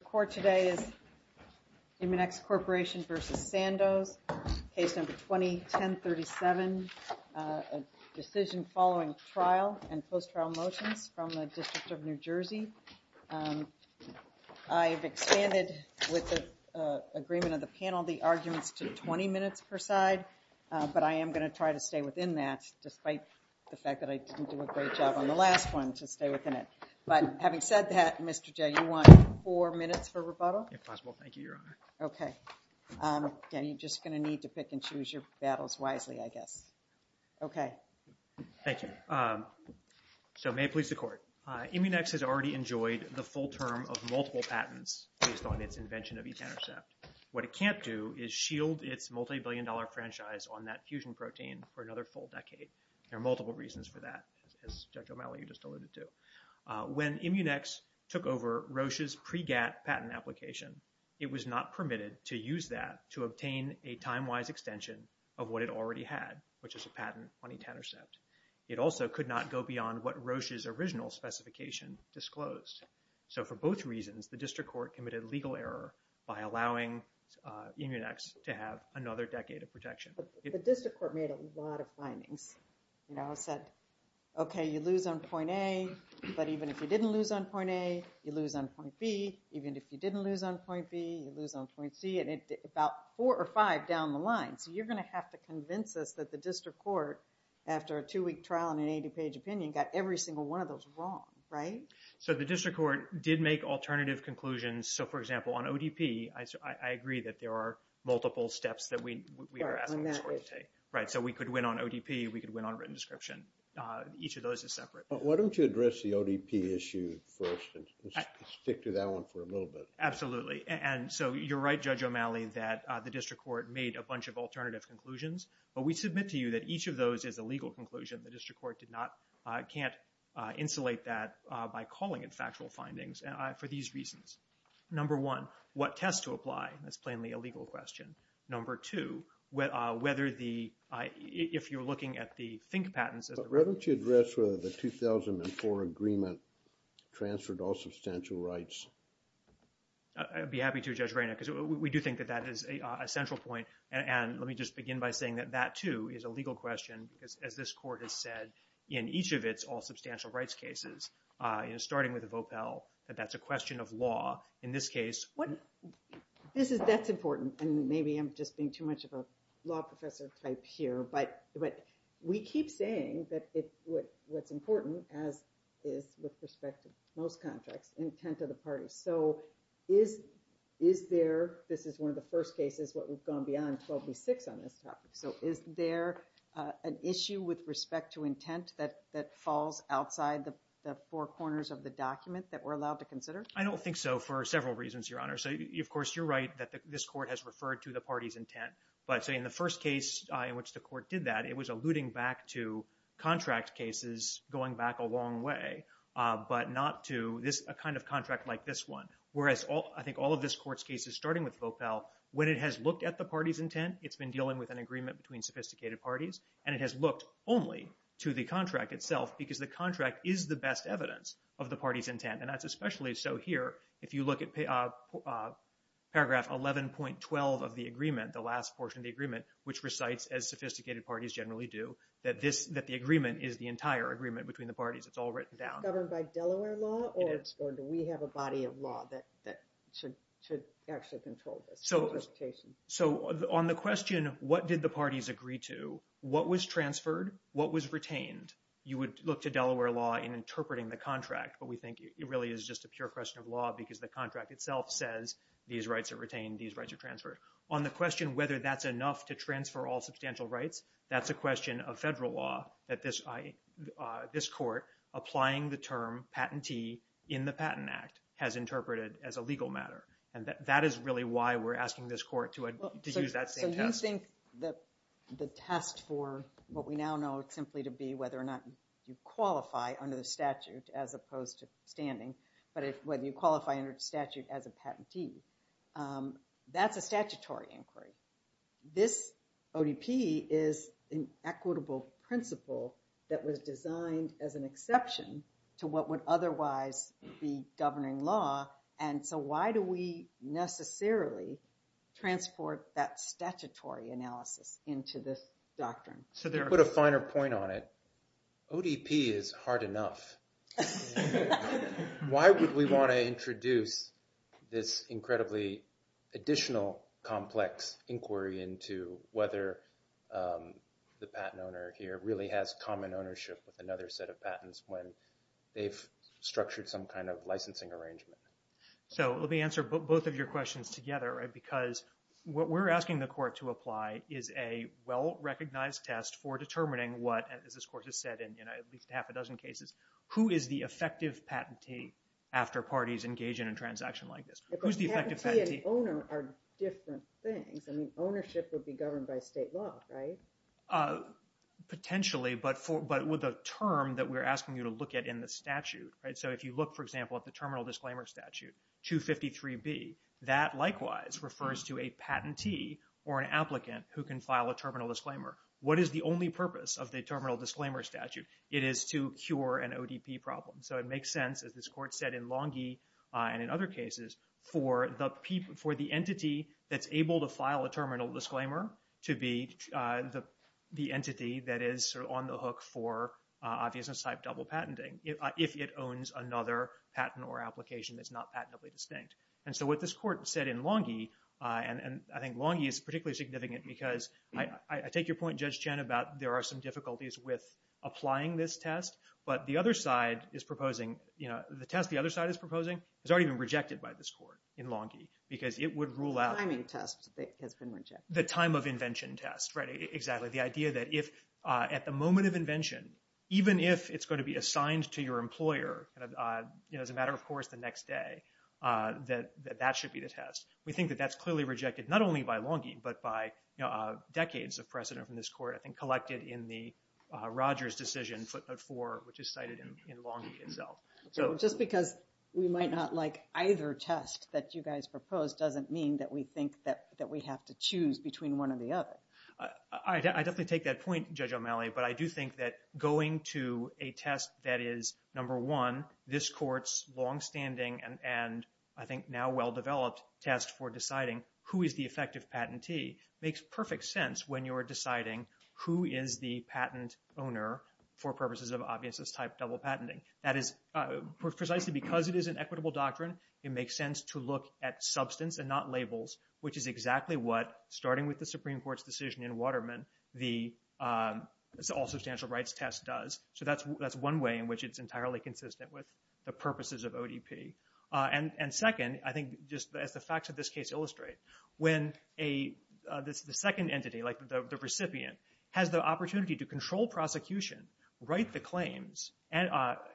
The court today is Munex Corporation v. Sandoz, case number 2010-37, a decision following trial and post-trial motions from the District of New Jersey. I have expanded with the agreement of the panel the arguments to 20 minutes per side, but I am going to try to stay within that despite the fact that I didn't do a great job on the last one to stay within it. But having said that, Mr. Jay, you want four minutes for rebuttal? If possible, thank you, Your Honor. Okay. Again, you're just going to need to pick and choose your battles wisely, I guess. Okay. Thank you. So, may it please the court, Immunex has already enjoyed the full term of multiple patents based on its invention of e-Thantercept. What it can't do is shield its multi-billion dollar franchise on that fusion protein for another full decade. There are multiple reasons for that, as Judge O'Malley just alluded to. When Immunex took over Roche's pre-GATT patent application, it was not permitted to use that to obtain a time-wise extension of what it already had, which is a patent on e-Thantercept. It also could not go beyond what Roche's original specification disclosed. So for both reasons, the district court committed legal error by allowing Immunex to have another decade of protection. The district court made a lot of findings. You know, said, okay, you lose on point A, but even if you didn't lose on point A, you lose on point B, even if you didn't lose on point B, you lose on point C, and about four or five down the line. So you're going to have to convince us that the district court, after a two-week trial and an 80-page opinion, got every single one of those wrong, right? So the district court did make alternative conclusions. So for example, on ODP, I agree that there are multiple steps that we are asking the court to take. Right, so we could win on ODP, we could win on written description. Each of those is separate. Why don't you address the ODP issue first and stick to that one for a little bit. Absolutely. And so you're right, Judge O'Malley, that the district court made a bunch of alternative conclusions, but we submit to you that each of those is a legal conclusion. The district court did not, can't insulate that by calling it factual findings for these reasons. Number one, what tests to apply, that's plainly a legal question. Number two, whether the, if you're looking at the FINK patents as a- But why don't you address whether the 2004 agreement transferred all substantial rights? I'd be happy to, Judge Rayner, because we do think that that is a central point, and let me just begin by saying that that, too, is a legal question, as this court has said in each of its all substantial rights cases, starting with the Vopel, that that's a question of law. In this case- This is, that's important, and maybe I'm just being too much of a law professor type here, but we keep saying that what's important, as is with respect to most contracts, intent of the parties. So is there, this is one of the first cases where we've gone beyond 12 v. 6 on this topic, so is there an issue with respect to intent that falls outside the four corners of the document that we're allowed to consider? I don't think so, for several reasons, Your Honor. So, of course, you're right that this court has referred to the party's intent, but, say, in the first case in which the court did that, it was alluding back to contract cases going back a long way, but not to this, a kind of contract like this one, whereas all, I think all of this court's cases, starting with Vopel, when it has looked at the party's intent, it's been dealing with an agreement between sophisticated parties, and it has looked only to the contract itself, because the contract is the best evidence of the party's intent, and that's especially so here. If you look at paragraph 11.12 of the agreement, the last portion of the agreement, which recites, as sophisticated parties generally do, that the agreement is the entire agreement between the parties. It's all written down. Governed by Delaware law, or do we have a body of law that should actually control this interpretation? So, on the question, what did the parties agree to, what was transferred, what was retained, you would look to Delaware law in interpreting the contract, but we think it really is just a pure question of law, because the contract itself says, these rights are retained, these rights are transferred. On the question whether that's enough to transfer all substantial rights, that's a question of federal law, that this court, applying the term patentee in the Patent Act, has interpreted as a legal matter, and that is really why we're asking this court to use that same test. So you think that the test for what we now know simply to be whether or not you qualify under the statute as opposed to standing, but whether you qualify under the statute as a patentee, that's a statutory inquiry. This ODP is an equitable principle that was designed as an exception to what would otherwise be governing law, and so why do we necessarily transport that statutory analysis into this doctrine? So to put a finer point on it, ODP is hard enough. Why would we want to introduce this incredibly additional complex inquiry into whether the patent owner here really has common ownership with another set of patents when they've structured some kind of licensing arrangement? So let me answer both of your questions together, because what we're asking the court to apply is a well-recognized test for determining what, as this court has said in at least half a dozen cases, who is the effective patentee after parties engage in a transaction like this. Patentee and owner are different things. Ownership would be governed by state law, right? Potentially, but with a term that we're asking you to look at in the statute. So if you look, for example, at the terminal disclaimer statute, 253B, that likewise refers to a patentee or an applicant who can file a terminal disclaimer. What is the only purpose of the terminal disclaimer statute? It is to cure an ODP problem. So it makes sense, as this court said in Longhi and in other cases, for the entity that's able to file a terminal disclaimer to be the entity that is on the hook for obviousness-type double patenting. If it owns another patent or application that's not patentably distinct. And so what this court said in Longhi, and I think Longhi is particularly significant because I take your point, Judge Chen, about there are some difficulties with applying this test, but the other side is proposing, you know, the test the other side is proposing has already been rejected by this court in Longhi, because it would rule out- The timing test has been rejected. The time of invention test, right, exactly. The idea that if at the moment of invention, even if it's going to be assigned to your employer as a matter of course, the next day, that that should be the test. We think that that's clearly rejected, not only by Longhi, but by decades of precedent from this court, I think collected in the Rogers decision footnote four, which is cited in Longhi itself. Just because we might not like either test that you guys propose doesn't mean that we think that we have to choose between one or the other. I definitely take that point, Judge O'Malley, but I do think that going to a test that is number one, this court's longstanding and I think now well-developed test for deciding who is the effective patentee makes perfect sense when you're deciding who is the patent owner for purposes of obviousness type double patenting. That is precisely because it is an equitable doctrine, it makes sense to look at substance and not labels, which is exactly what, starting with the Supreme Court's decision in Waterman, the all-substantial rights test does. That's one way in which it's entirely consistent with the purposes of ODP. Second, I think just as the facts of this case illustrate, when the second entity, like the recipient, has the opportunity to control prosecution, write the claims,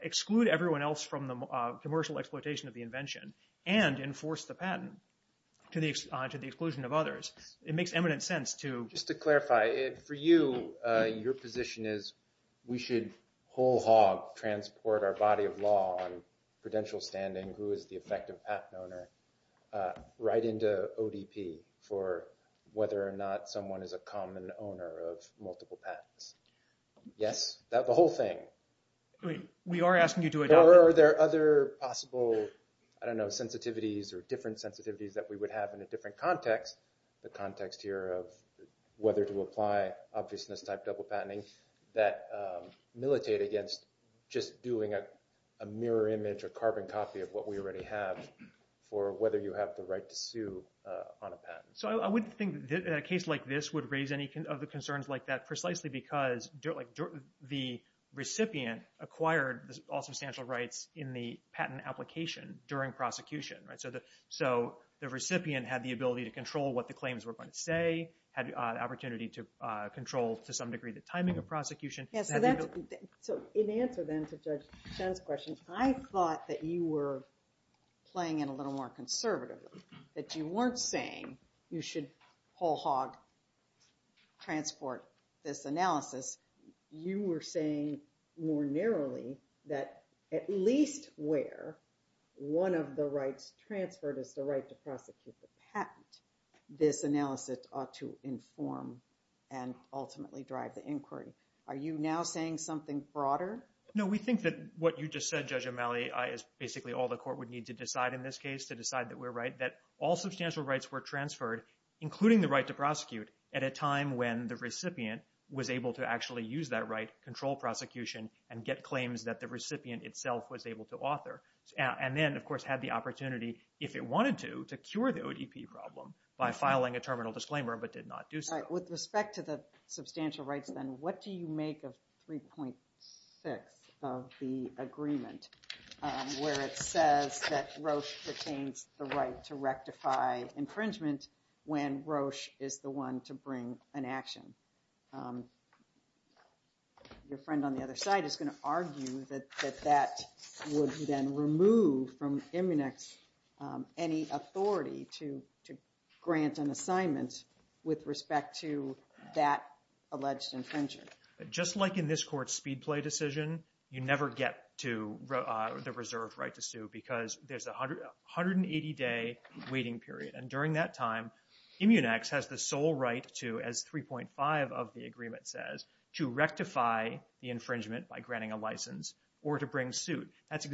exclude everyone else from the commercial exploitation of the invention, and enforce the patent to the exclusion of others, it makes eminent sense to... Just to clarify, for you, your position is we should whole hog transport our body of law on prudential standing, who is the effective patent owner, right into ODP for whether or not someone is a common owner of multiple patents. Yes? The whole thing. We are asking you to adopt... Or are there other possible, I don't know, sensitivities or different sensitivities that we would have in a different context, the context here of whether to apply obviousness type double patenting, that militate against just doing a mirror image or carbon copy of what we already have, or whether you have the right to sue on a patent. So I wouldn't think a case like this would raise any of the concerns like that, precisely because the recipient acquired all substantial rights in the patent application during prosecution. So the recipient had the ability to control what the claims were going to say, had the opportunity to control, to some degree, the timing of prosecution. So in answer then to Judge Chen's question, I thought that you were playing it a little more conservatively, that you weren't saying you should whole hog transport this analysis. You were saying more narrowly that at least where one of the rights transferred is the right to prosecute the patent, this analysis ought to inform and ultimately drive the inquiry. Are you now saying something broader? No. We think that what you just said, Judge O'Malley, is basically all the court would need to decide in this case, to decide that we're right, that all substantial rights were transferred, including the right to prosecute, at a time when the recipient was able to actually use that right, control prosecution, and get claims that the recipient itself was able to author. And then, of course, had the opportunity, if it wanted to, to cure the ODP problem by filing a terminal disclaimer, but did not do so. With respect to the substantial rights, then, what do you make of 3.6 of the agreement where it says that Roche retains the right to rectify infringement when Roche is the one to bring an action? Your friend on the other side is going to argue that that would then remove from MUNIX any authority to grant an assignment with respect to that alleged infringer. Just like in this court's Speedplay decision, you never get to the reserve right to sue because there's a 180-day waiting period, and during that time, MUNIX has the sole right to, as 3.5 of the agreement says, to rectify the infringement by granting a license or to bring suit.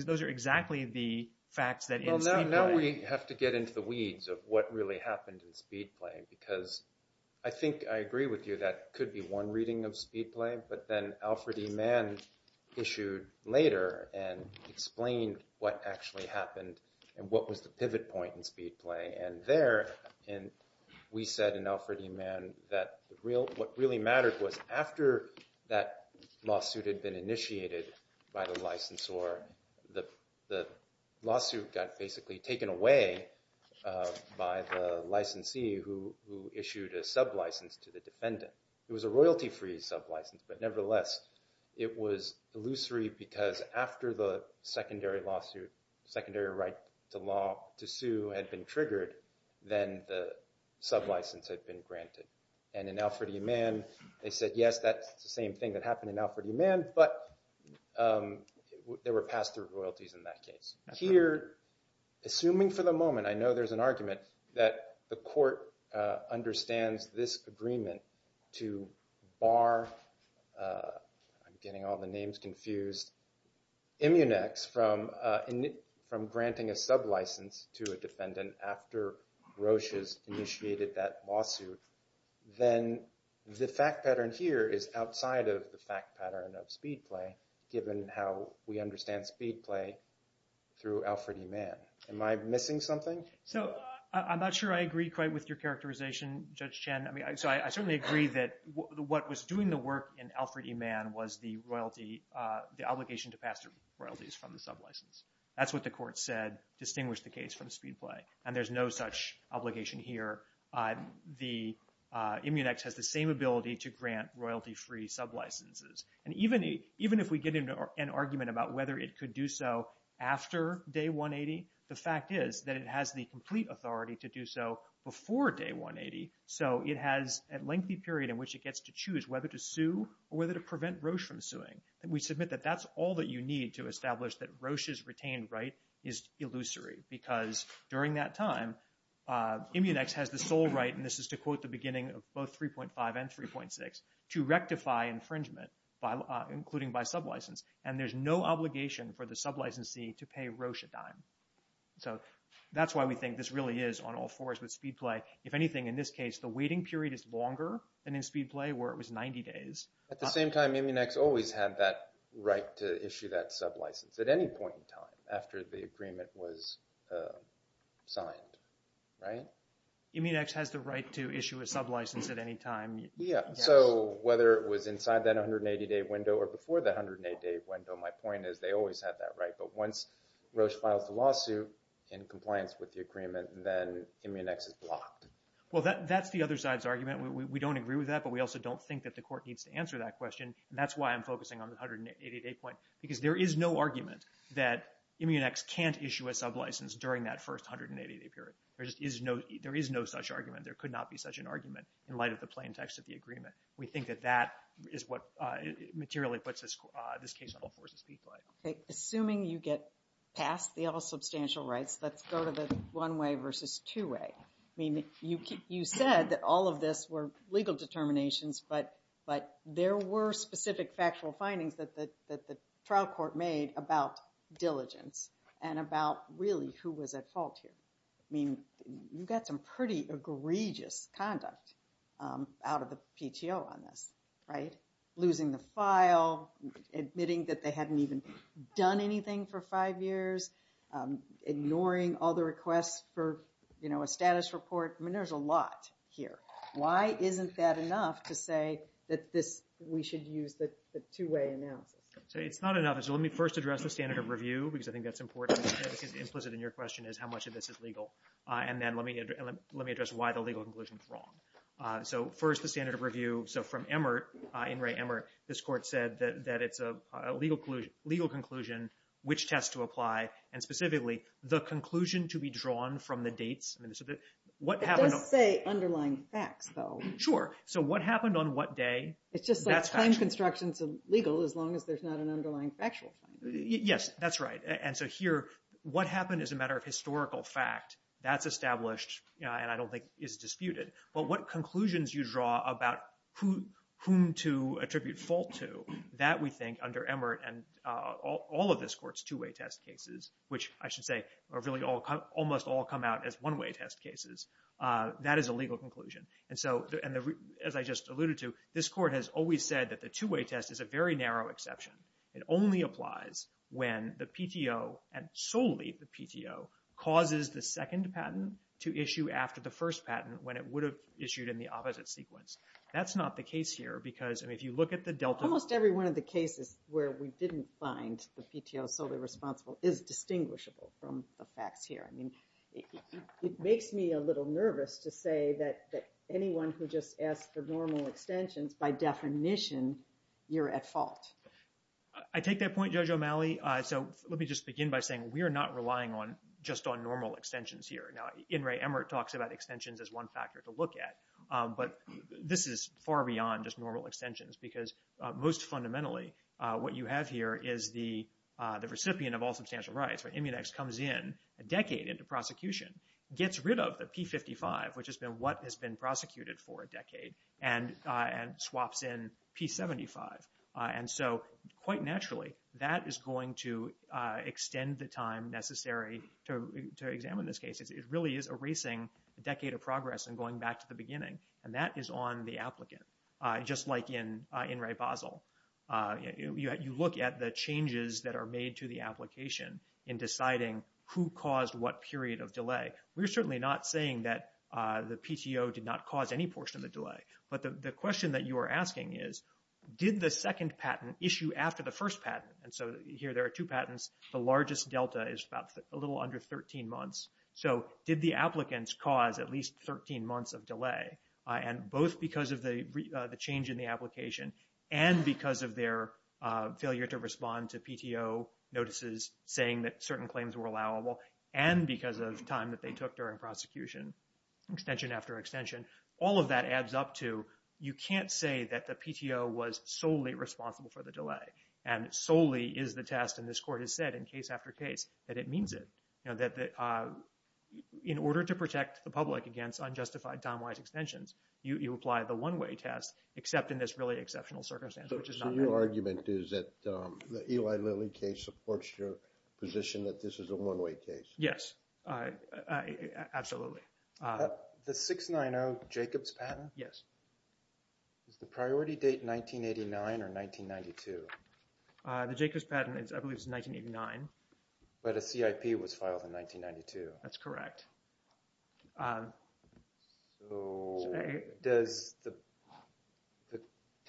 Those are exactly the facts that, in Speedplay— Well, now we have to get into the weeds of what really happened in Speedplay, because I think I agree with you that it could be one reading of Speedplay, but then Alfred E. Mann issued later and explained what actually happened and what was the pivot point in Speedplay. And there, we said in Alfred E. Mann that what really mattered was after that lawsuit had been initiated by the licensor, the lawsuit got basically taken away by the licensee who issued a sublicense to the defendant. It was a royalty-free sublicense, but nevertheless, it was illusory because after the secondary lawsuit, secondary right to sue had been triggered, then the sublicense had been granted. And in Alfred E. Mann, they said, yes, that's the same thing that happened in Alfred E. Mann, but there were pass-through royalties in that case. Here, assuming for the moment—I know there's an argument that the court understands this agreement to bar—I'm getting all the names confused—Immunex from granting a sublicense to a defendant after Grotius initiated that lawsuit, then the fact pattern here is outside of the fact pattern of Speedplay, given how we understand Speedplay through Alfred E. Mann. Am I missing something? So, I'm not sure I agree quite with your characterization, Judge Chen. I mean, so I certainly agree that what was doing the work in Alfred E. Mann was the royalty—the obligation to pass-through royalties from the sublicense. That's what the court said distinguished the case from Speedplay. And there's no such obligation here. The Immunex has the same ability to grant royalty-free sublicenses. And even if we get an argument about whether it could do so after Day 180, the fact is that it has the complete authority to do so before Day 180. So it has a lengthy period in which it gets to choose whether to sue or whether to prevent Roche from suing. And we submit that that's all that you need to establish that Roche's retained right is illusory, because during that time, Immunex has the sole right—and this is to quote the beginning of both 3.5 and 3.6—to rectify infringement, including by sublicense. And there's no obligation for the sublicensee to pay Roche a dime. So that's why we think this really is on all fours with Speedplay. If anything, in this case, the waiting period is longer than in Speedplay, where it was 90 days. At the same time, Immunex always had that right to issue that sublicense at any point in time, after the agreement was signed, right? Immunex has the right to issue a sublicense at any time. Yeah. So whether it was inside that 180-day window or before the 180-day window, my point is they always had that right. But once Roche files the lawsuit in compliance with the agreement, then Immunex is blocked. Well, that's the other side's argument. We don't agree with that, but we also don't think that the court needs to answer that question. And that's why I'm focusing on the 180-day point, because there is no argument that Immunex can't issue a sublicense during that first 180-day period. There is no such argument. There could not be such an argument in light of the plain text of the agreement. We think that that is what materially puts this case on all fours with Speedplay. Assuming you get past the all substantial rights, let's go to the one-way versus two-way. I mean, you said that all of this were legal determinations, but there were specific factual findings that the trial court made about diligence and about, really, who was at fault here. I mean, you got some pretty egregious conduct out of the PTO on this, right? Losing the file, admitting that they hadn't even done anything for five years, ignoring all the requests for a status report. I mean, there's a lot here. Why isn't that enough to say that we should use the two-way analysis? It's not enough. So let me first address the standard of review, because I think that's important, because implicit in your question is how much of this is legal. And then let me address why the legal conclusion is wrong. So first, the standard of review. So from Emert, In re Emert, this court said that it's a legal conclusion, which tests to apply, and specifically, the conclusion to be drawn from the dates. It does say underlying facts, though. Sure. So what happened on what day? It's just like time constructions of legal, as long as there's not an underlying factual finding. Yes, that's right. And so here, what happened is a matter of historical fact. That's established, and I don't think is disputed. But what conclusions you draw about whom to attribute fault to, that we think, under Emert and all of this court's two-way test cases, which I should say, really, almost all come out as one-way test cases, that is a legal conclusion. And so, as I just alluded to, this court has always said that the two-way test is a very narrow exception. It only applies when the PTO, and solely the PTO, causes the second patent to issue after the first patent, when it would have issued in the opposite sequence. That's not the case here, because if you look at the Delta- Well, almost every one of the cases where we didn't find the PTO solely responsible is distinguishable from the facts here. I mean, it makes me a little nervous to say that anyone who just asks for normal extensions, by definition, you're at fault. I take that point, Judge O'Malley. So let me just begin by saying, we are not relying just on normal extensions here. Now, In re, Emert talks about extensions as one factor to look at, but this is far beyond just normal extensions, because most fundamentally, what you have here is the recipient of all substantial rights. When Immunex comes in a decade into prosecution, gets rid of the P55, which has been what has been prosecuted for a decade, and swaps in P75. And so, quite naturally, that is going to extend the time necessary to examine this case. It really is erasing a decade of progress and going back to the beginning, and that is on the applicant, just like in In re, Basel. You look at the changes that are made to the application in deciding who caused what period of delay. We're certainly not saying that the PTO did not cause any portion of the delay. But the question that you are asking is, did the second patent issue after the first patent? And so here, there are two patents. The largest delta is about a little under 13 months. So did the applicants cause at least 13 months of delay? And both because of the change in the application, and because of their failure to respond to PTO notices saying that certain claims were allowable, and because of time that they took during prosecution, extension after extension. All of that adds up to, you can't say that the PTO was solely responsible for the delay, and solely is the test, and this court has said in case after case, that it means it. You know, that in order to protect the public against unjustified time-wise extensions, you apply the one-way test, except in this really exceptional circumstance, which is not good. So your argument is that the Eli Lilly case supports your position that this is a one-way case? Yes. Absolutely. The 690 Jacobs patent? Yes. Is the priority date 1989 or 1992? The Jacobs patent, I believe, is 1989. But a CIP was filed in 1992. That's correct. So does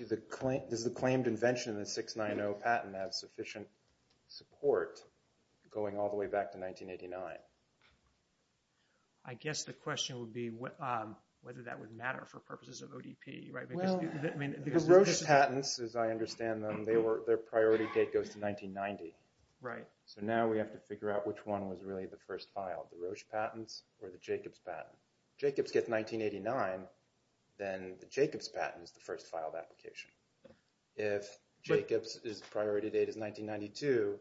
the claimed invention in the 690 patent have sufficient support going all the way back to 1989? I guess the question would be whether that would matter for purposes of ODP, right? Well, the Roche patents, as I understand them, their priority date goes to 1990. Right. So now we have to figure out which one was really the first file, the Roche patents or the Jacobs patent. If Jacobs gets 1989, then the Jacobs patent is the first filed application. If Jacobs' priority date is 1992,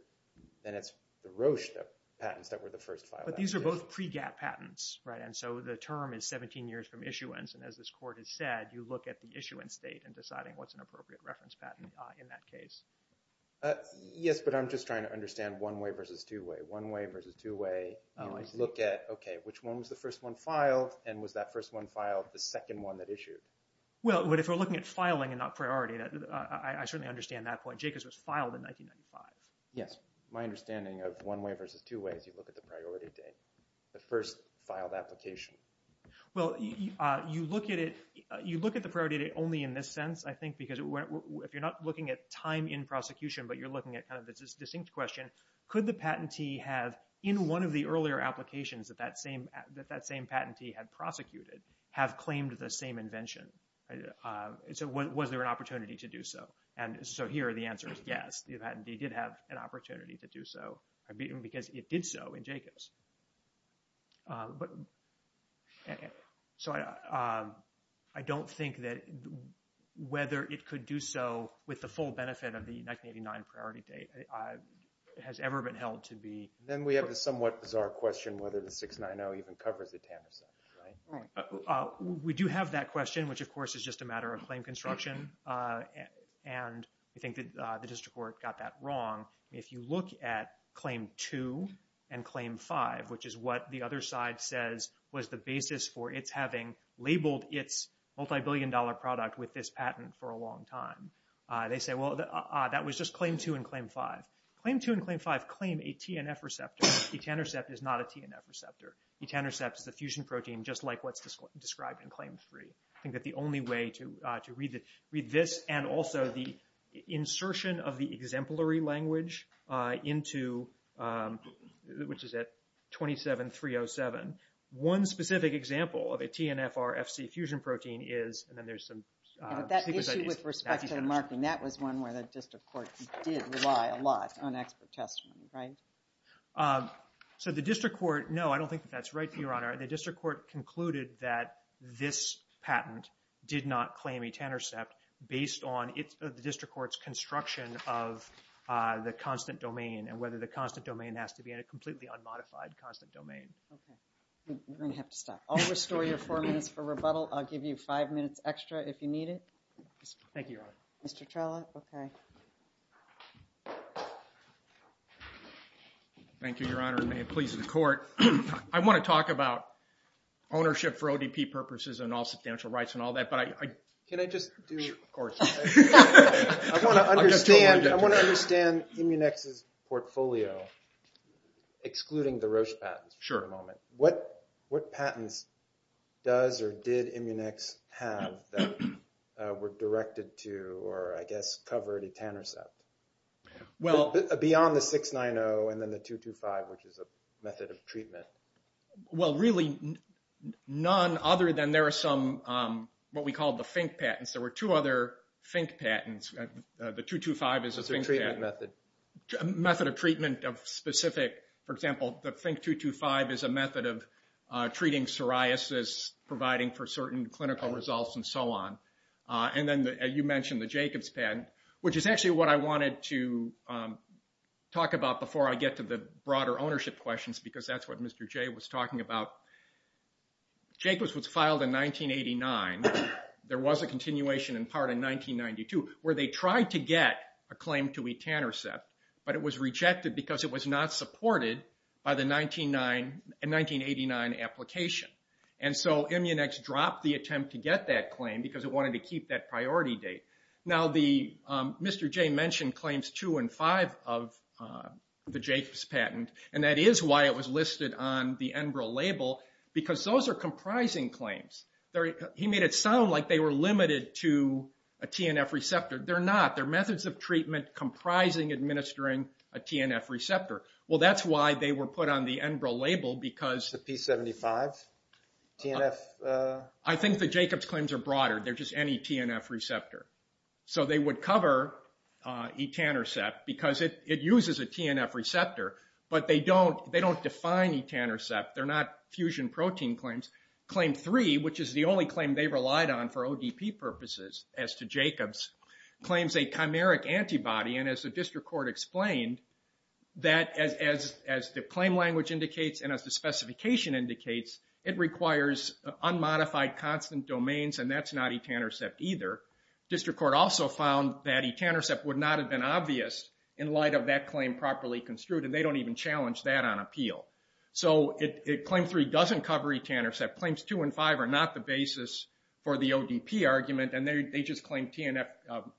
then it's the Roche patents that were the first filed application. But these are both pre-GATT patents, right? And so the term is 17 years from issuance, and as this court has said, you look at the issuance date in deciding what's an appropriate reference patent in that case. Yes, but I'm just trying to understand one-way versus two-way. One-way versus two-way. Oh, I see. You look at, okay, which one was the first one filed, and was that first one filed the second one that issued? Well, but if we're looking at filing and not priority, I certainly understand that point. Jacobs was filed in 1995. Yes. My understanding of one-way versus two-way is you look at the priority date, the first filed application. Well, you look at it, you look at the priority date only in this sense, I think, because if you're not looking at time in prosecution, but you're looking at kind of this distinct question, could the patentee have, in one of the earlier applications that that same patentee had prosecuted, have claimed the same invention? So was there an opportunity to do so? And so here, the answer is yes, the patentee did have an opportunity to do so, because it did so in Jacobs. So I don't think that whether it could do so with the full benefit of the 1989 priority date has ever been held to be... Then we have the somewhat bizarre question whether the 690 even covers the TANF sentence, right? We do have that question, which, of course, is just a matter of claim construction, and I think that the district court got that wrong. If you look at Claim 2 and Claim 5, which is what the other side says was the basis for its having labeled its multi-billion dollar product with this patent for a long time, they say, well, that was just Claim 2 and Claim 5. Claim 2 and Claim 5 claim a TNF receptor. Etanercept is not a TNF receptor. Etanercept is a fusion protein, just like what's described in Claim 3. I think that the only way to read this, and also the insertion of the exemplary language into, which is at 27307. One specific example of a TNFR-FC fusion protein is, and then there's some... But that issue with respect to the marking, that was one where the district court did rely a lot on expert testimony, right? So the district court, no, I don't think that that's right, Your Honor. The district court concluded that this patent did not claim etanercept based on the district court's construction of the constant domain, and whether the constant domain has to be in a completely unmodified constant domain. Okay. You're going to have to stop. I'll restore your four minutes for rebuttal. I'll give you five minutes extra if you need it. Thank you, Your Honor. Mr. Trella? Okay. Thank you, Your Honor, and may it please the court. I want to talk about ownership for ODP purposes and all substantial rights and all that, but I... Can I just do... Sure, of course. I want to understand Immunex's portfolio, excluding the Roche patent for the moment. Sure. What patents does or did Immunex have that were directed to, or I guess covered, etanercept? Well... The 690 and then the 225, which is a method of treatment. Well, really, none other than there are some, what we call the Fink patents. There were two other Fink patents. The 225 is a Fink patent. It's a treatment method. A method of treatment of specific... For example, the Fink 225 is a method of treating psoriasis, providing for certain clinical results, and so on. And then you mentioned the Jacobs patent, which is actually what I wanted to talk about before I get to the broader ownership questions, because that's what Mr. Jay was talking about. Jacobs was filed in 1989. There was a continuation in part in 1992, where they tried to get a claim to etanercept, but it was rejected because it was not supported by the 1989 application. And so Immunex dropped the attempt to get that claim, because it wanted to keep that priority date. Now, Mr. Jay mentioned claims two and five of the Jacobs patent, and that is why it was listed on the Enbrel label, because those are comprising claims. He made it sound like they were limited to a TNF receptor. They're not. They're methods of treatment comprising administering a TNF receptor. Well, that's why they were put on the Enbrel label, because... TNF... I think the Jacobs claims are broader. They're just any TNF receptor. So they would cover etanercept, because it uses a TNF receptor, but they don't define etanercept. They're not fusion protein claims. Claim three, which is the only claim they relied on for ODP purposes, as to Jacobs, claims a chimeric antibody, and as the district court explained, that as the claim language indicates, and as the specification indicates, it requires unmodified constant domains, and that's not etanercept either. District court also found that etanercept would not have been obvious in light of that claim properly construed, and they don't even challenge that on appeal. So, claim three doesn't cover etanercept. Claims two and five are not the basis for the ODP argument, and they just claim TNF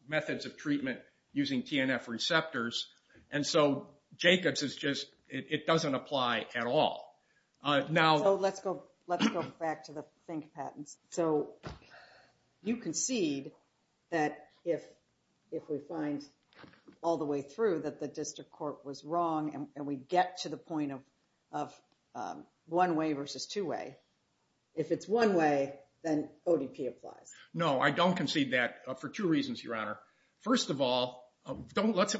methods of treatment using TNF receptors. And so, Jacobs is just, it doesn't apply at all. Now... So, let's go back to the think patents. So, you concede that if we find all the way through that the district court was wrong, and we get to the point of one-way versus two-way, if it's one-way, then ODP applies. No, I don't concede that for two reasons, Your Honor. First of all, there's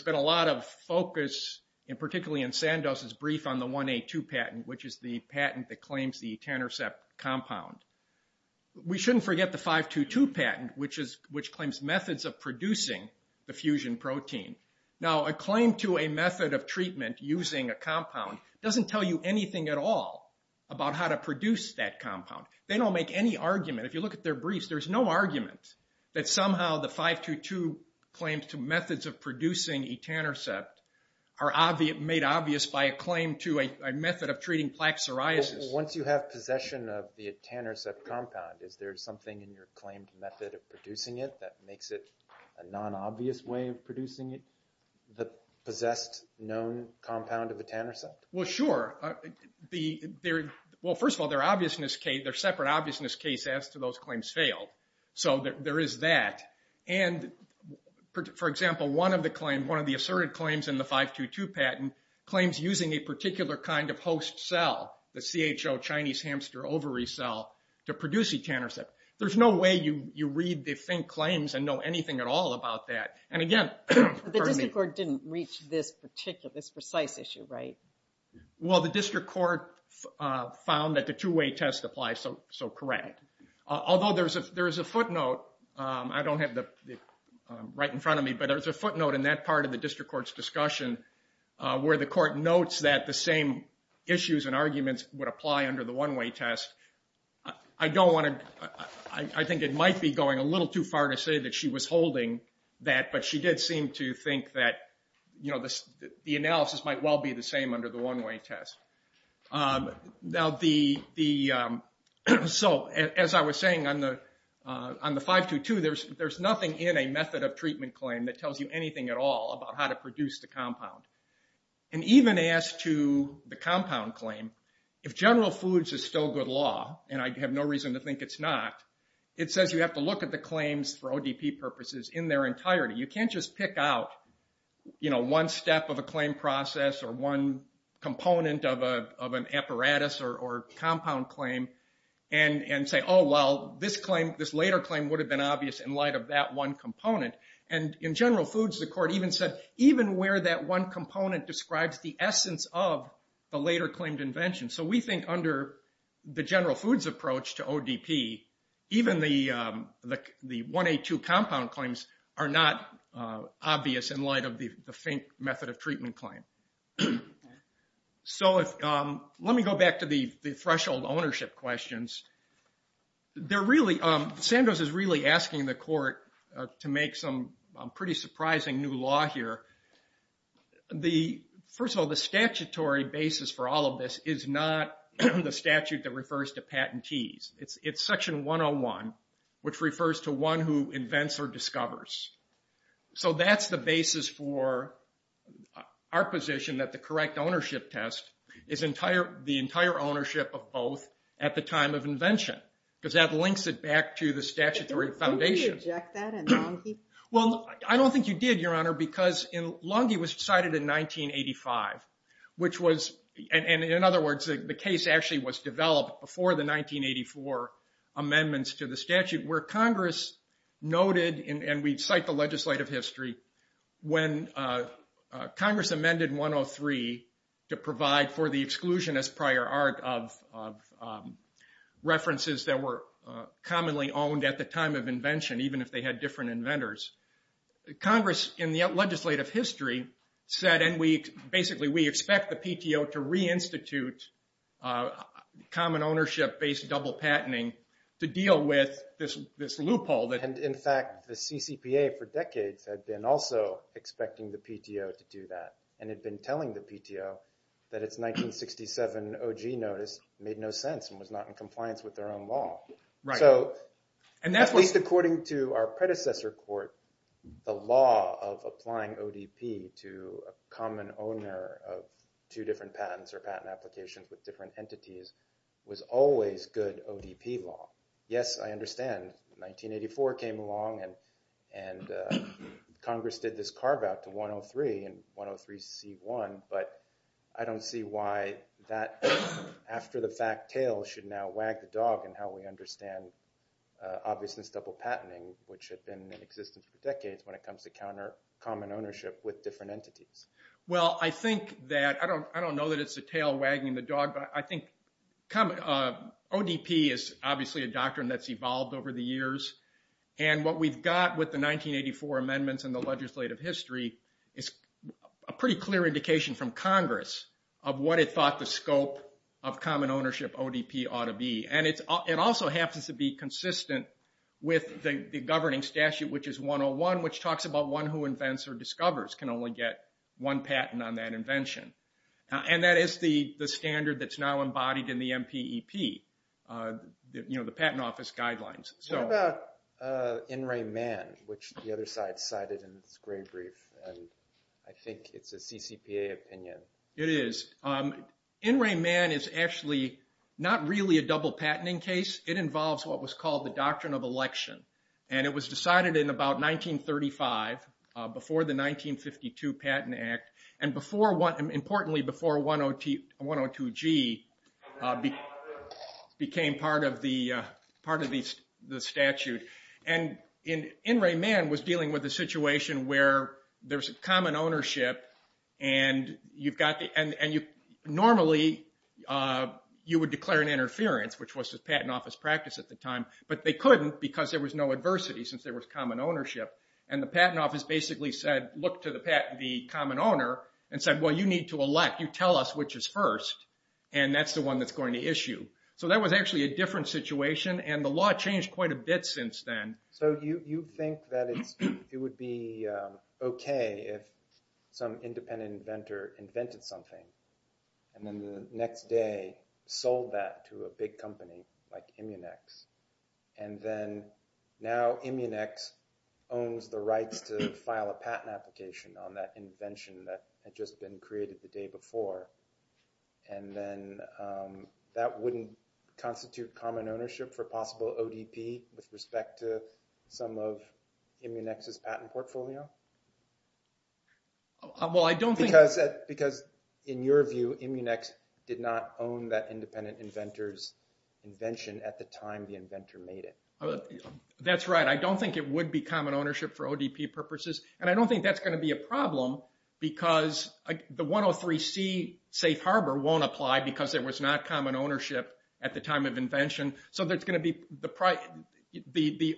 been a lot of focus, and particularly in Sandoz's brief on the 1A2 patent, which is the patent that claims the etanercept compound. We shouldn't forget the 522 patent, which claims methods of producing the fusion protein. Now, a claim to a method of treatment using a compound doesn't tell you anything at all about how to produce that compound. They don't make any argument. If you look at their briefs, there's no argument that somehow the 522 claims to methods of producing etanercept are made obvious by a claim to a method of treating plaque psoriasis. Once you have possession of the etanercept compound, is there something in your claimed method of producing it that makes it a non-obvious way of producing it, the possessed known compound of etanercept? Well, sure. Well, first of all, their separate obviousness case as to those claims failed. So, there is that. And, for example, one of the asserted claims in the 522 patent claims using a particular kind of host cell, the CHO, Chinese hamster ovary cell, to produce etanercept. There's no way you read the thin claims and know anything at all about that. The District Court didn't reach this precise issue, right? Well, the District Court found that the two-way test applies, so correct. Although, there's a footnote. I don't have it right in front of me, but there's a footnote in that part of the District Court's discussion where the Court notes that the same issues and arguments would apply under the one-way test. I don't want to, I think it might be going a little too far to say that she was holding that, but she did seem to think that the analysis might well be the same under the one-way test. So, as I was saying on the 522, there's nothing in a method of treatment claim that tells you anything at all about how to produce the compound. And even as to the compound claim, if general foods is still good law, and I have no reason to think it's not, it says you have to look at the claims for ODP purposes in their entirety. You can't just pick out one step of a claim process or one component of an apparatus or compound claim and say, oh, well, this later claim would have been obvious in light of that one component. And in general foods, the Court even said, even where that one component describes the essence of the later claimed invention. So, we think under the general foods approach to ODP, even the 1A2 compound claims are not obvious in light of the FINK method of treatment claim. So, let me go back to the threshold ownership questions. They're really, Sandoz is really asking the Court to make some pretty surprising new law here. First of all, the statutory basis for all of this is not the statute that refers to patentees. It's section 101, which refers to one who invents or discovers. So, that's the basis for our position that the correct ownership test is the entire ownership of both at the time of invention. Because that links it back to the statutory foundation. Didn't we reject that in non-FINK? Well, I don't think you did, Your Honor, because Lunge was decided in 1985. Which was, and in other words, the case actually was developed before the 1984 amendments to the statute, where Congress noted, and we cite the legislative history, when Congress amended 103 to provide for the exclusion as prior art of references that were commonly owned at the time of invention, even if they had different inventors, Congress in the legislative history said, and basically we expect the PTO to reinstitute common ownership-based double patenting to deal with this loophole. In fact, the CCPA for decades had been also expecting the PTO to do that, and had been telling the PTO that its 1967 OG notice made no sense and was not in compliance with their own law. At least according to our predecessor court, the law of applying ODP to a common owner of two different patents or patent applications with different entities was always good ODP law. Yes, I understand, 1984 came along and Congress did this carve out to 103 and 103C1, but I don't really understand obviousness double patenting, which had been in existence for decades when it comes to common ownership with different entities. Well, I think that, I don't know that it's a tail wagging the dog, but I think ODP is obviously a doctrine that's evolved over the years, and what we've got with the 1984 amendments and the legislative history is a pretty clear indication from Congress of what it thought the scope of common ownership ODP ought to be, and it also happens to be consistent with the governing statute, which is 101, which talks about one who invents or discovers can only get one patent on that invention, and that is the standard that's now embodied in the MPEP, the Patent Office Guidelines. What about In Re Man, which the other side cited in its gray brief, and I think it's a CCPA opinion. It is. In Re Man is actually not really a double patenting case, it involves what was called the doctrine of election, and it was decided in about 1935, before the 1952 Patent Act, and importantly before 102G became part of the statute, and In Re Man was dealing with a situation where there's common ownership, and normally you would declare an interference, which was the Patent Office practice at the time, but they couldn't because there was no adversity since there was common ownership, and the Patent Office basically said, look to the common owner, and said, well you need to elect, you tell us which is first, and that's the one that's going to issue. So that was actually a different situation, and the law changed quite a bit since then. So you think that it would be okay if some independent inventor invented something, and then the next day sold that to a big company like Immunex, and then now Immunex owns the rights to file a patent application on that invention that had just been created the day before, and then that wouldn't constitute common ownership for possible ODP with respect to some of Immunex's patent portfolio? Because in your view, Immunex did not own that independent inventor's invention at the time the inventor made it. That's right, I don't think it would be common ownership for ODP purposes, and I don't think that's going to be a problem because the 103C Safe Harbor won't apply because there was not common ownership at the time of invention, so the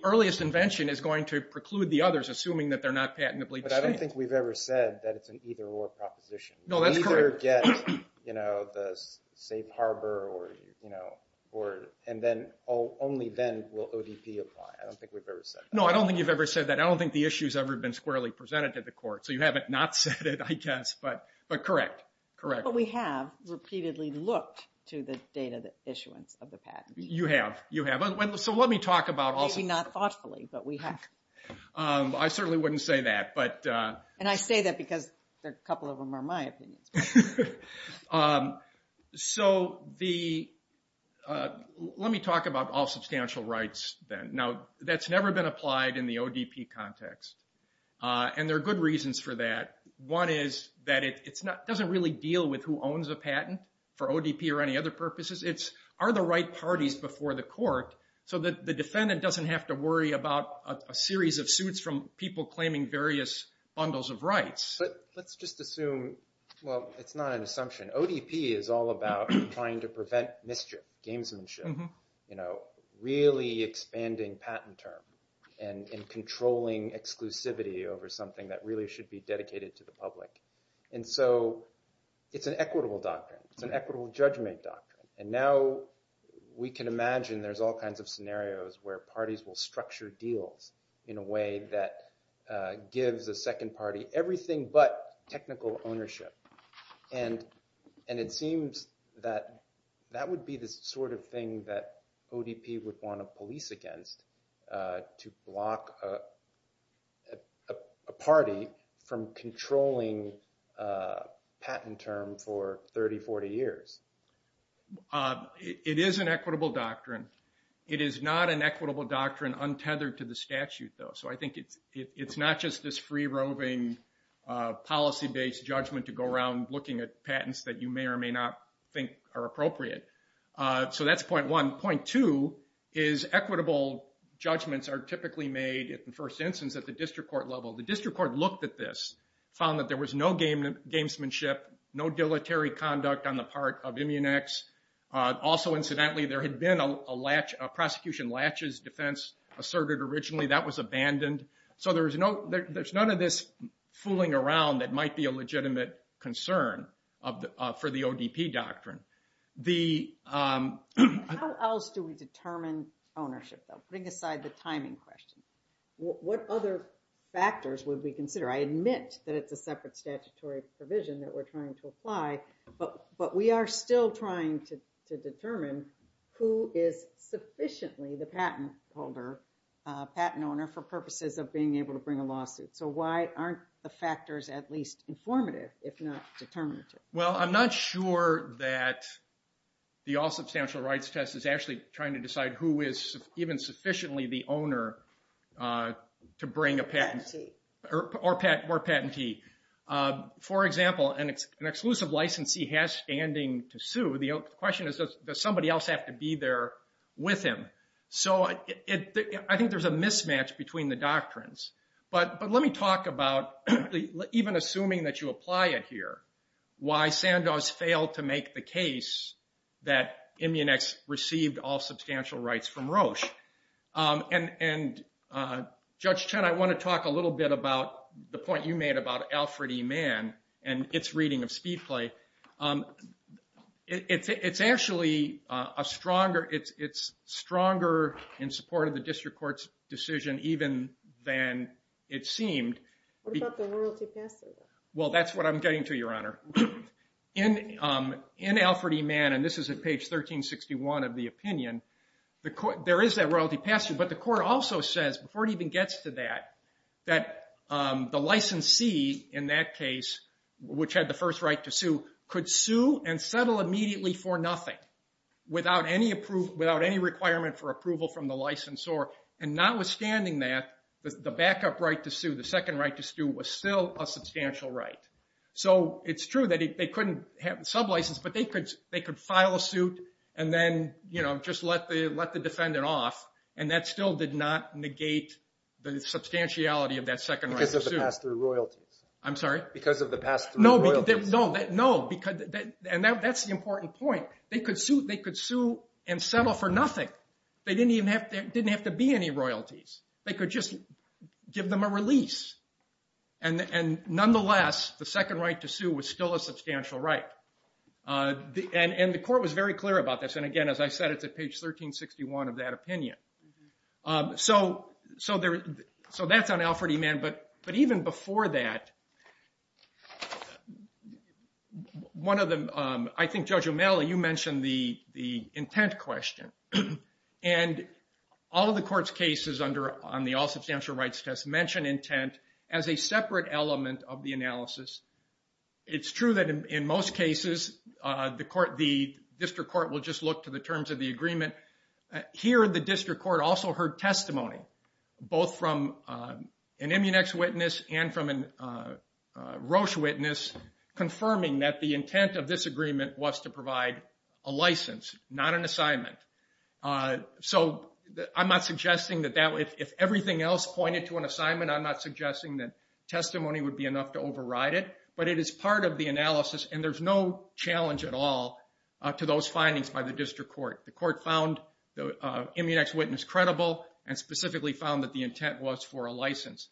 earliest invention is going to preclude the others, assuming that they're not patently distinct. But I don't think we've ever said that it's an either-or proposition. No, that's correct. You either get the Safe Harbor, and only then will ODP apply. I don't think we've ever said that. No, I don't think you've ever said that. I don't think the issue's ever been squarely presented to the court, so you haven't not said it, I guess, but correct. But we have repeatedly looked to the date of the issuance of the patent. You have, you have. Maybe not thoughtfully, but we have. I certainly wouldn't say that. And I say that because a couple of them are my opinions. Let me talk about all substantial rights then. Now, that's never been applied in the ODP context, and there are good reasons for that. One is that it doesn't really deal with who owns a patent, for ODP or any other purposes. It's, are the right parties before the court, so that the defendant doesn't have to worry about a series of suits from people claiming various bundles of rights. Let's just assume, well, it's not an assumption. ODP is all about trying to prevent mischief, gamesmanship. You know, really expanding patent term, and controlling exclusivity over something that really should be dedicated to the public. And so, it's an equitable doctrine. It's an equitable judgment doctrine. And now, we can imagine there's all kinds of scenarios where parties will structure deals in a way that gives a second party everything but technical ownership. And, and it seems that, that would be the sort of thing that ODP would want a police against to block a party from controlling a patent term for 30, 40 years. It is an equitable doctrine. It is not an equitable doctrine untethered to the statute, though. So, I think it's, it's not just this free-roving, policy-based judgment to go around looking at patents that you may or may not think are appropriate. So, that's point one. Point two is equitable judgments are typically made, in the first instance, at the district court level. The district court looked at this, found that there was no gamesmanship, no dilatory conduct on the part of Immunex. Also, incidentally, there had been a latch, a prosecution latches defense asserted originally. That was abandoned. So, there's no, there's none of this fooling around that might be a legitimate concern for the ODP doctrine. How else do we determine ownership, though? Putting aside the timing question. What other factors would we consider? I admit that it's a separate statutory provision that we're trying to apply, but we are still trying to determine who is sufficiently the patent holder, patent owner, for purposes of being able to bring a lawsuit. So, why aren't the factors at least informative, if not determinative? Well, I'm not sure that the All Substantial Rights Test is actually trying to decide who is even sufficiently the owner to bring a patent, or patentee. For example, an exclusive licensee has standing to sue. The question is, does somebody else have to be there with him? So, I think there's a mismatch between the doctrines. But let me talk about, even assuming that you apply it here, why Sandoz failed to make the case that Immunex received All Substantial Rights from Roche. And Judge Chen, I want to talk a little bit about the point you made about Alfred E. Mann and its reading of Speedplay. It's actually a stronger, it's stronger in support of the District Court's decision, even than it seemed. What about the royalty passable? Well, that's what I'm getting to, Your Honor. In Alfred E. Mann, and this is at page 1361 of the opinion, there is that royalty passable. But the court also says, before it even gets to that, that the licensee, in that case, which had the first right to sue, could sue and settle immediately for nothing, without any requirement for approval from the licensor, and notwithstanding that, the backup right to sue, the second right to sue, was still a substantial right. So it's true that they couldn't have the sublicense, but they could file a suit and then just let the defendant off, and that still did not negate the substantiality of that second right to sue. Because of the pass-through royalties. I'm sorry? Because of the pass-through royalties. No, and that's the important point. They could sue and settle for nothing. They didn't have to be any royalties. They could just give them a release. And nonetheless, the second right to sue was still a substantial right. And the court was very clear about this. And again, as I said, it's at page 1361 of that opinion. So that's on Alfred E. Mann. But even before that, one of the, I think, Judge O'Malley, you mentioned the intent question. And all of the court's cases on the all substantial rights test mentioned intent as a separate element of the analysis. It's true that in most cases, the district court will just look to the terms of the agreement. Here, the district court also heard testimony, both from an Immunex witness and from a Roche witness, confirming that the intent of this agreement was to provide a license, not an assignment. So I'm not suggesting that if everything else pointed to an assignment, I'm not suggesting that testimony would be enough to override it. But it is part of the analysis, and there's no challenge at all to those findings by the district court. The court found the Immunex witness credible and specifically found that the intent was for a license.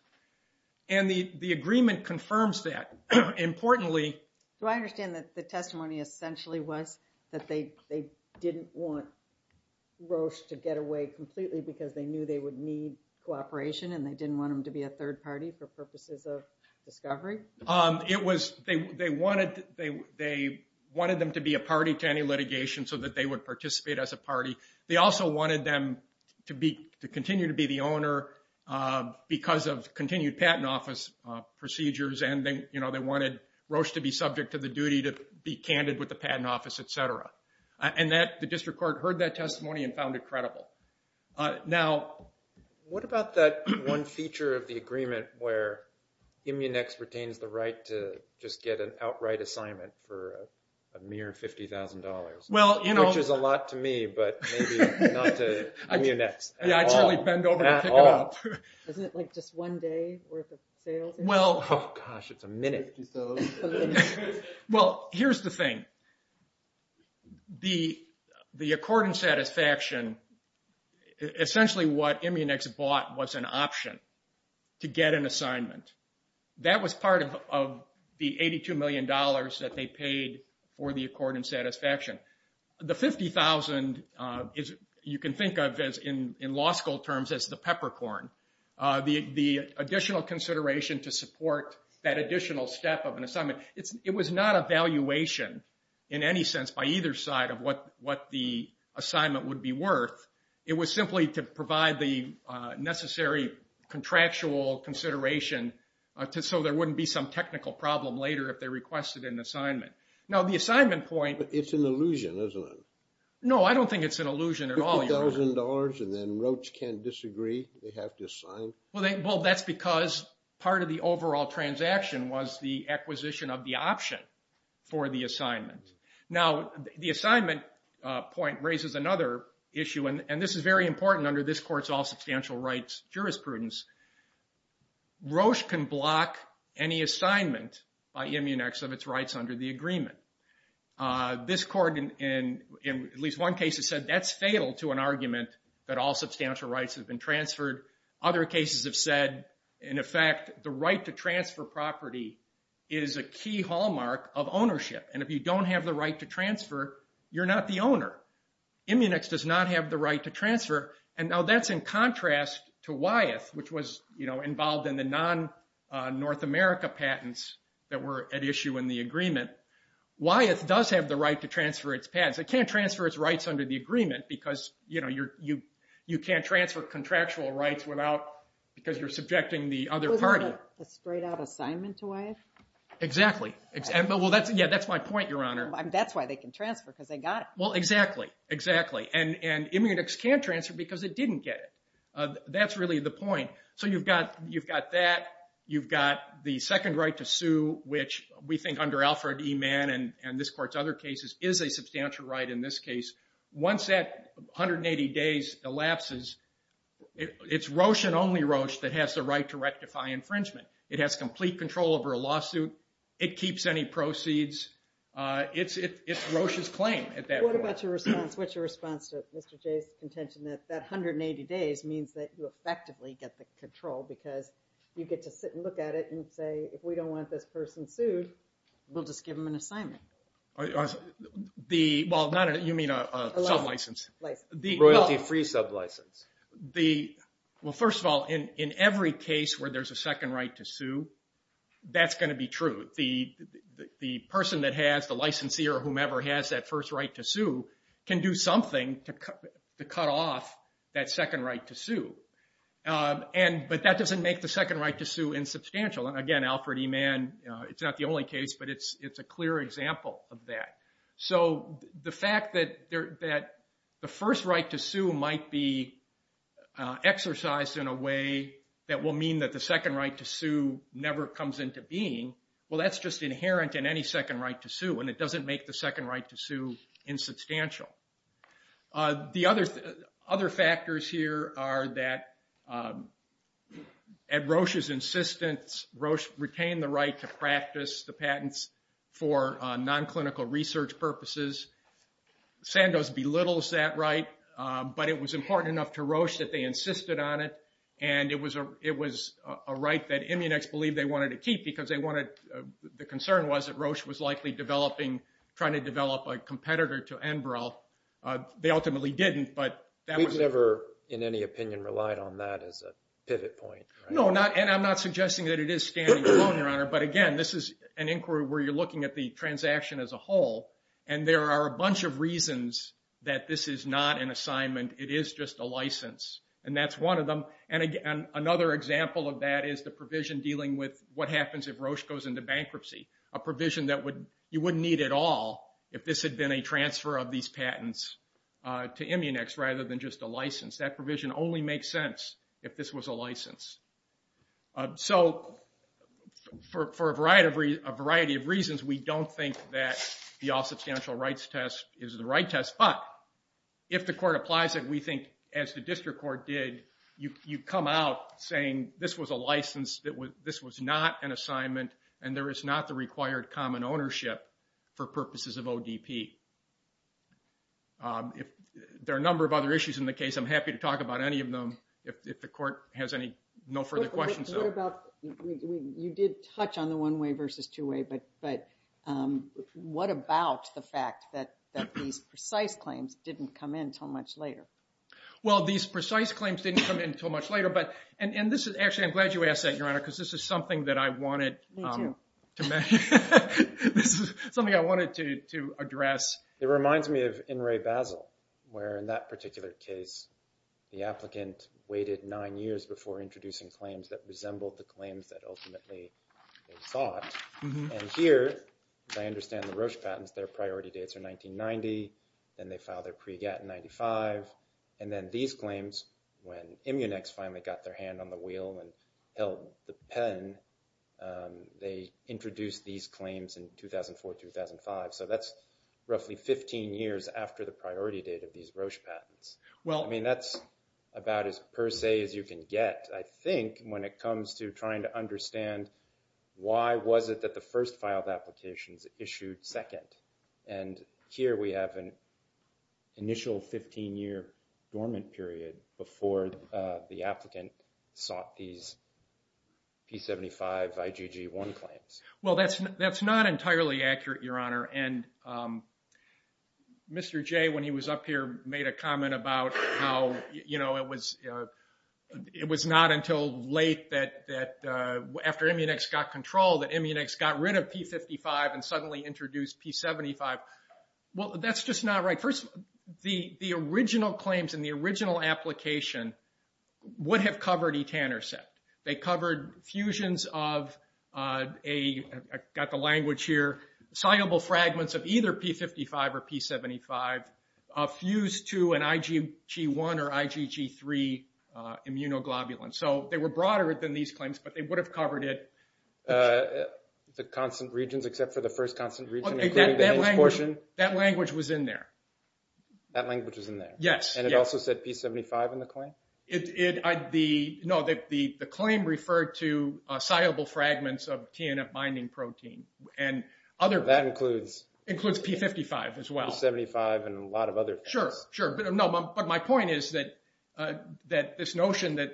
And the agreement confirms that. Do I understand that the testimony essentially was that they didn't want Roche to get away completely because they knew they would need cooperation and they didn't want them to be a third party for purposes of discovery? It was they wanted them to be a party to any litigation so that they would participate as a party. They also wanted them to continue to be the owner because of continued patent office procedures. And they wanted Roche to be subject to the duty to be candid with the patent office, et cetera. And the district court heard that testimony and found it credible. Now, what about that one feature of the agreement where Immunex retains the right to just get an outright assignment for a mere $50,000, which is a lot to me, but maybe not to Immunex at all. Isn't it like just one day worth of sales? Oh, gosh, it's a minute. Well, here's the thing. The accord and satisfaction, essentially what Immunex bought was an option to get an assignment. That was part of the $82 million that they paid for the accord and satisfaction. The $50,000 you can think of in law school terms as the peppercorn. The additional consideration to support that additional step of an assignment, it was not a valuation in any sense by either side of what the assignment would be worth. It was simply to provide the necessary contractual consideration so there wouldn't be some technical problem later if they requested an assignment. Now, the assignment point... But it's an illusion, isn't it? No, I don't think it's an illusion at all. And then Roche can't disagree? They have to sign? Well, that's because part of the overall transaction was the acquisition of the option for the assignment. Now, the assignment point raises another issue, and this is very important under this court's all-substantial rights jurisprudence. Roche can block any assignment by Immunex of its rights under the agreement. This court, in at least one case, has said that's fatal to an argument that all substantial rights have been transferred. Other cases have said, in effect, the right to transfer property is a key hallmark of ownership, and if you don't have the right to transfer, you're not the owner. Immunex does not have the right to transfer, and now that's in contrast to Wyeth, which was involved in the non-North America patents that were at issue in the agreement. Wyeth does have the right to transfer its patents. It can't transfer its rights under the agreement because you can't transfer contractual rights because you're subjecting the other party. It wasn't a straight-out assignment to Wyeth? Exactly. Yeah, that's my point, Your Honor. That's why they can transfer, because they got it. Well, exactly. And Immunex can't transfer because it didn't get it. That's really the point. So you've got that. You've got the second right to sue, which we think under Alfred E. Mann and this Court's other cases is a substantial right in this case. Once that 180 days elapses, it's Roche and only Roche that has the right to rectify infringement. It has complete control over a lawsuit. It keeps any proceeds. It's Roche's claim at that point. What's your response to Mr. Jay's contention that that 180 days means that you effectively get the control because you get to sit and look at it and say, if we don't want this person sued, we'll just give them an assignment? Well, you mean a sublicense? A royalty-free sublicense. Well, first of all, in every case where there's a second right to sue, that's going to be true. The person that has the licensee or whomever has that first right to sue can do something to cut off that second right to sue. But that doesn't make the second right to sue insubstantial. Again, Alfred E. Mann, it's not the only case, but it's a clear example of that. So the fact that the first right to sue might be exercised in a way that will mean that the second right to sue never comes into being, well, that's just inherent in any second right to sue and it doesn't make the second right to sue insubstantial. The other factors here are that at Roche's insistence, Roche retained the right to practice the patents for non-clinical research purposes. Sandoz belittles that right, but it was important enough to Roche that they insisted on it, and it was a right that Immunex believed they wanted to keep because the concern was that Roche was likely developing, trying to develop a competitor to Enbrel. They ultimately didn't, but that was... We've never, in any opinion, relied on that as a pivot point. No, and I'm not suggesting that it is standing alone, Your Honor, but again, this is an inquiry where you're looking at the transaction as a whole, and there are a bunch of reasons that this is not an assignment. It is just a license, and that's one of them. And another example of that is the provision dealing with what happens if Roche goes into bankruptcy, a provision that you wouldn't need at all if this had been a transfer of these patents to Immunex rather than just a license. That provision only makes sense if this was a license. So for a variety of reasons, we don't think that the all-substantial rights test is the right test, but if the court applies it, we think, as the district court did, you come out saying this was a license, this was not an assignment, and there is not the required common ownership for purposes of ODP. There are a number of other issues in the case. I'm happy to talk about any of them if the court has no further questions. What about... You did touch on the one-way versus two-way, but what about the fact that these precise claims didn't come in until much later? Well, these precise claims didn't come in until much later, and this is... Actually, I'm glad you asked that, Your Honor, because this is something that I wanted to mention. This is something I wanted to address. It reminds me of In re Basel, where in that particular case, the applicant waited nine years before introducing claims that resembled the claims that ultimately they sought, and here, as I understand the Roche patents, their priority dates are 1990, then they file their pre-GATT in 1995, and then these claims, when Immunex finally got their hand on the wheel and held the pen, they introduced these claims in 2004-2005, so that's roughly 15 years after the priority date of these Roche patents. I mean, that's about as per se as you can get, I think, when it comes to trying to understand why was it that the first filed applications issued second, and here we have an initial 15-year dormant period before the applicant sought these P75 IgG1 claims. Well, that's not entirely accurate, Your Honor, and Mr. Jay, when he was up here, made a comment about how it was not until late after Immunex got control that Immunex got rid of P55 and suddenly introduced P75. Well, that's just not right. First, the original claims in the original application would have covered e-tanner set. They covered fusions of a, I've got the language here, soluble fragments of either P55 or P75, fused to an IgG1 or IgG3 immunoglobulin, so they were broader than these claims, but they would have covered it. The constant regions except for the first constant region? That language was in there. That language was in there? Yes. And it also said P75 in the claim? No, the claim referred to soluble fragments of TNF binding protein and other... That includes... Includes P55 as well. P75 and a lot of other things. Sure, but my point is that this notion that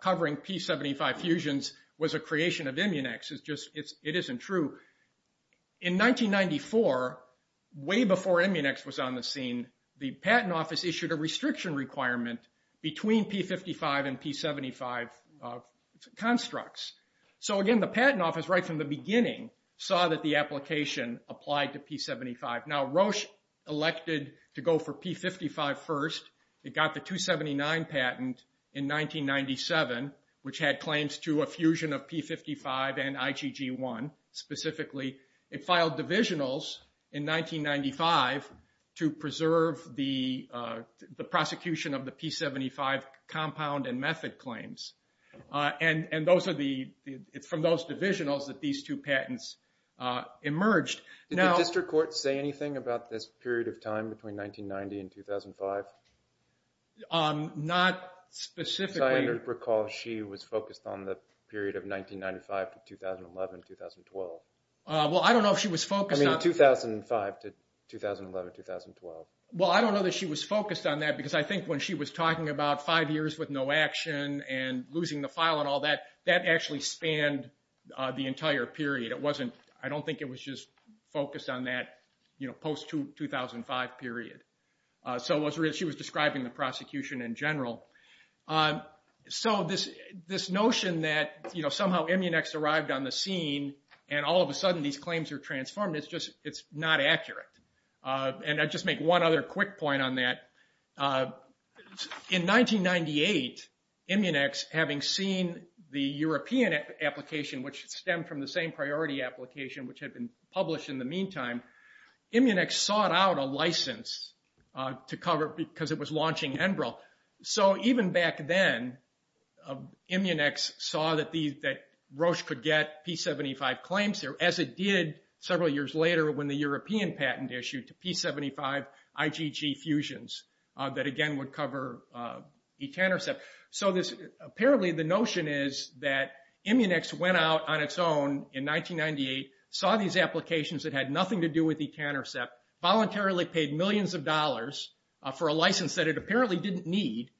covering P75 fusions was a creation of Immunex is just... It isn't true. In 1994, way before Immunex was on the scene, the Patent Office issued a restriction requirement between P55 and P75 constructs. So again, the Patent Office, right from the beginning, saw that the application applied to P75. Now, Roche elected to go for P55 first. It got the 279 patent in 1997, which had claims to a fusion of P55 and IgG1 specifically. It filed divisionals in 1995 to preserve the prosecution of the P75 compound and method claims. And those are the... It's from those divisionals that these two patents emerged. Did the district courts say anything about this period of time between 1990 and 2005? Not specifically. As I recall, she was focused on the period of 1995 to 2011-2012. Well, I don't know if she was focused on... I mean 2005 to 2011-2012. Well, I don't know that she was focused on that because I think when she was talking about five years with no action and losing the file and all that, that actually spanned the entire period. It wasn't... I don't think it was just focused on that post-2005 period. So she was describing the prosecution in general. So this notion that somehow Immunex arrived on the scene and all of a sudden these claims are transformed, it's not accurate. And I'll just make one other quick point on that. In 1998, Immunex, having seen the European application, which stemmed from the same priority application which had been published in the meantime, Immunex sought out a license to cover it because it was launching Enbrel. So even back then, Immunex saw that Roche could get P-75 claims, as it did several years later when the European patent issued to P-75 IgG fusions that again would cover E-10 or so. So apparently the notion is that Immunex went out on its own in 1998, saw these applications that had nothing to do with E-countercept, voluntarily paid millions of dollars for a license that it apparently didn't need.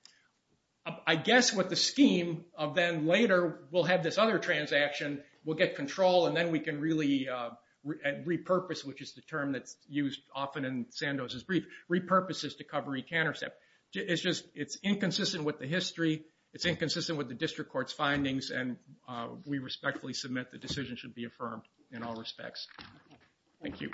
I guess what the scheme of then later, we'll have this other transaction, we'll get control and then we can really repurpose, which is the term that's used often in Sandoz's brief, repurposes to cover E-countercept. It's inconsistent with the history, it's inconsistent with the district court's findings and we respectfully submit the decision should be affirmed in all respects. Thank you.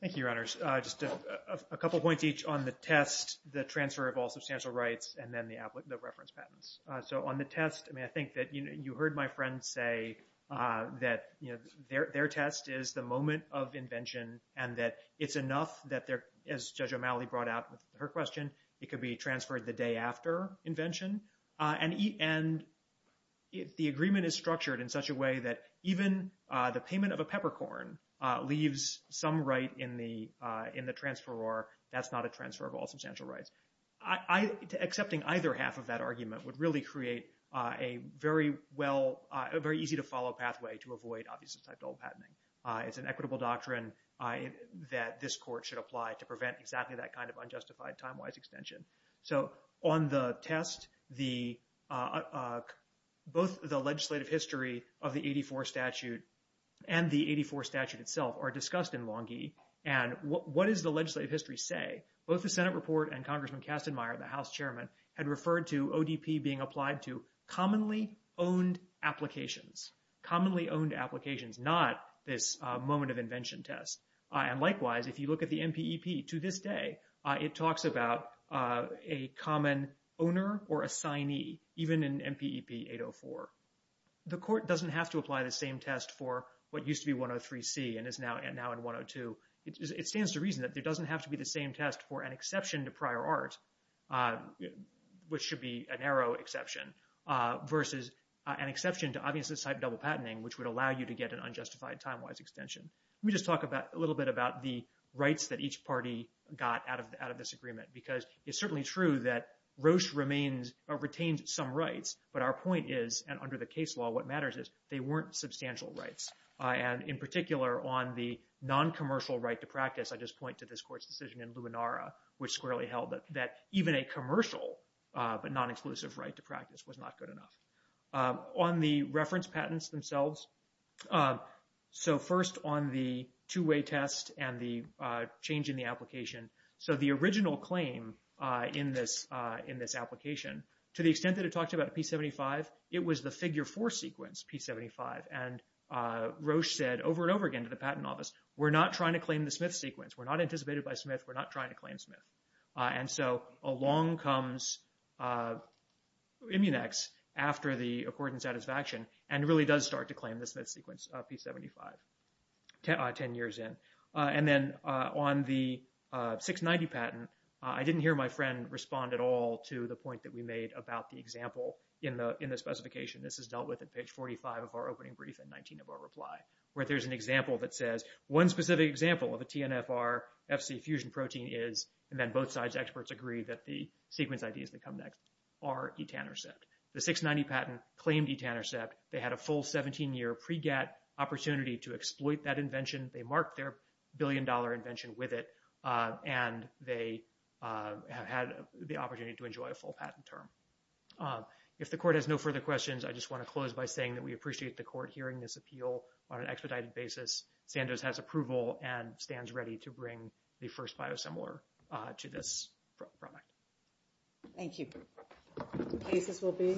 Thank you, Your Honors. Just a couple points each on the test, the transfer of all substantial rights, and then the reference patents. So on the test, I think that you heard my friend say that their test is the moment of invention and that it's enough that they're, as Judge O'Malley brought out with her question, it could be transferred the day after invention. And the agreement is structured in such a way that even the payment of a peppercorn leaves some right in the transfer or that's not a transfer of all substantial rights. Accepting either half of that argument would really create a very well, a very easy to follow pathway to avoid, obviously, type double patenting. It's an equitable doctrine that this court should apply to prevent exactly that kind of unjustified time-wise extension. So on the test, both the legislative history of the 84 statute and the 84 statute itself are discussed in Longhi. And what does the legislative history say? Both the Senate report and Congressman Kastenmeier, the House chairman, had referred to ODP being applied to commonly owned applications, commonly owned applications, not this moment of invention test. And likewise, if you look at the MPEP to this day, it talks about a common owner or assignee, even in MPEP 804. The court doesn't have to apply the same test for what used to be 103C and is now in 102. It stands to reason that there doesn't have to be the same test for an exception to prior art which should be a narrow exception versus an exception to obviously type double patenting which would allow you to get an unjustified time-wise extension. Let me just talk a little bit about the rights that each party got out of this agreement because it's certainly true that Roche retained some rights. But our point is, and under the case law, what matters is they weren't substantial rights. And in particular, on the non-commercial right to practice, I just point to this court's decision in Luminara which squarely held that even a commercial but non-exclusive right to practice was not good enough. On the reference patents themselves, so first on the two-way test and the change in the application. So the original claim in this application, to the extent that it talked about a P75, it was the figure four sequence, P75. And Roche said over and over again to the patent office, we're not trying to claim the Smith sequence. We're not anticipated by Smith. We're not trying to claim Smith. And so along comes Immunex after the accord and satisfaction and really does start to claim the Smith sequence, P75, 10 years in. And then on the 690 patent, I didn't hear my friend respond at all to the point that we made about the example in the specification. This is dealt with at page 45 of our opening brief and 19 of our reply, where there's an example that says, one specific example of a TNFR FC fusion protein is, and then both sides experts agree that the sequence ideas that come next are etanercept. The 690 patent claimed etanercept. They had a full 17-year pre-GATT opportunity to exploit that invention. They marked their billion-dollar invention with it. And they had the opportunity to enjoy a full patent term. If the court has no further questions, I just want to close by saying that we appreciate the court hearing this appeal on an expedited basis. Sanders has approval and stands ready to bring the first biosimilar to this product. Thank you.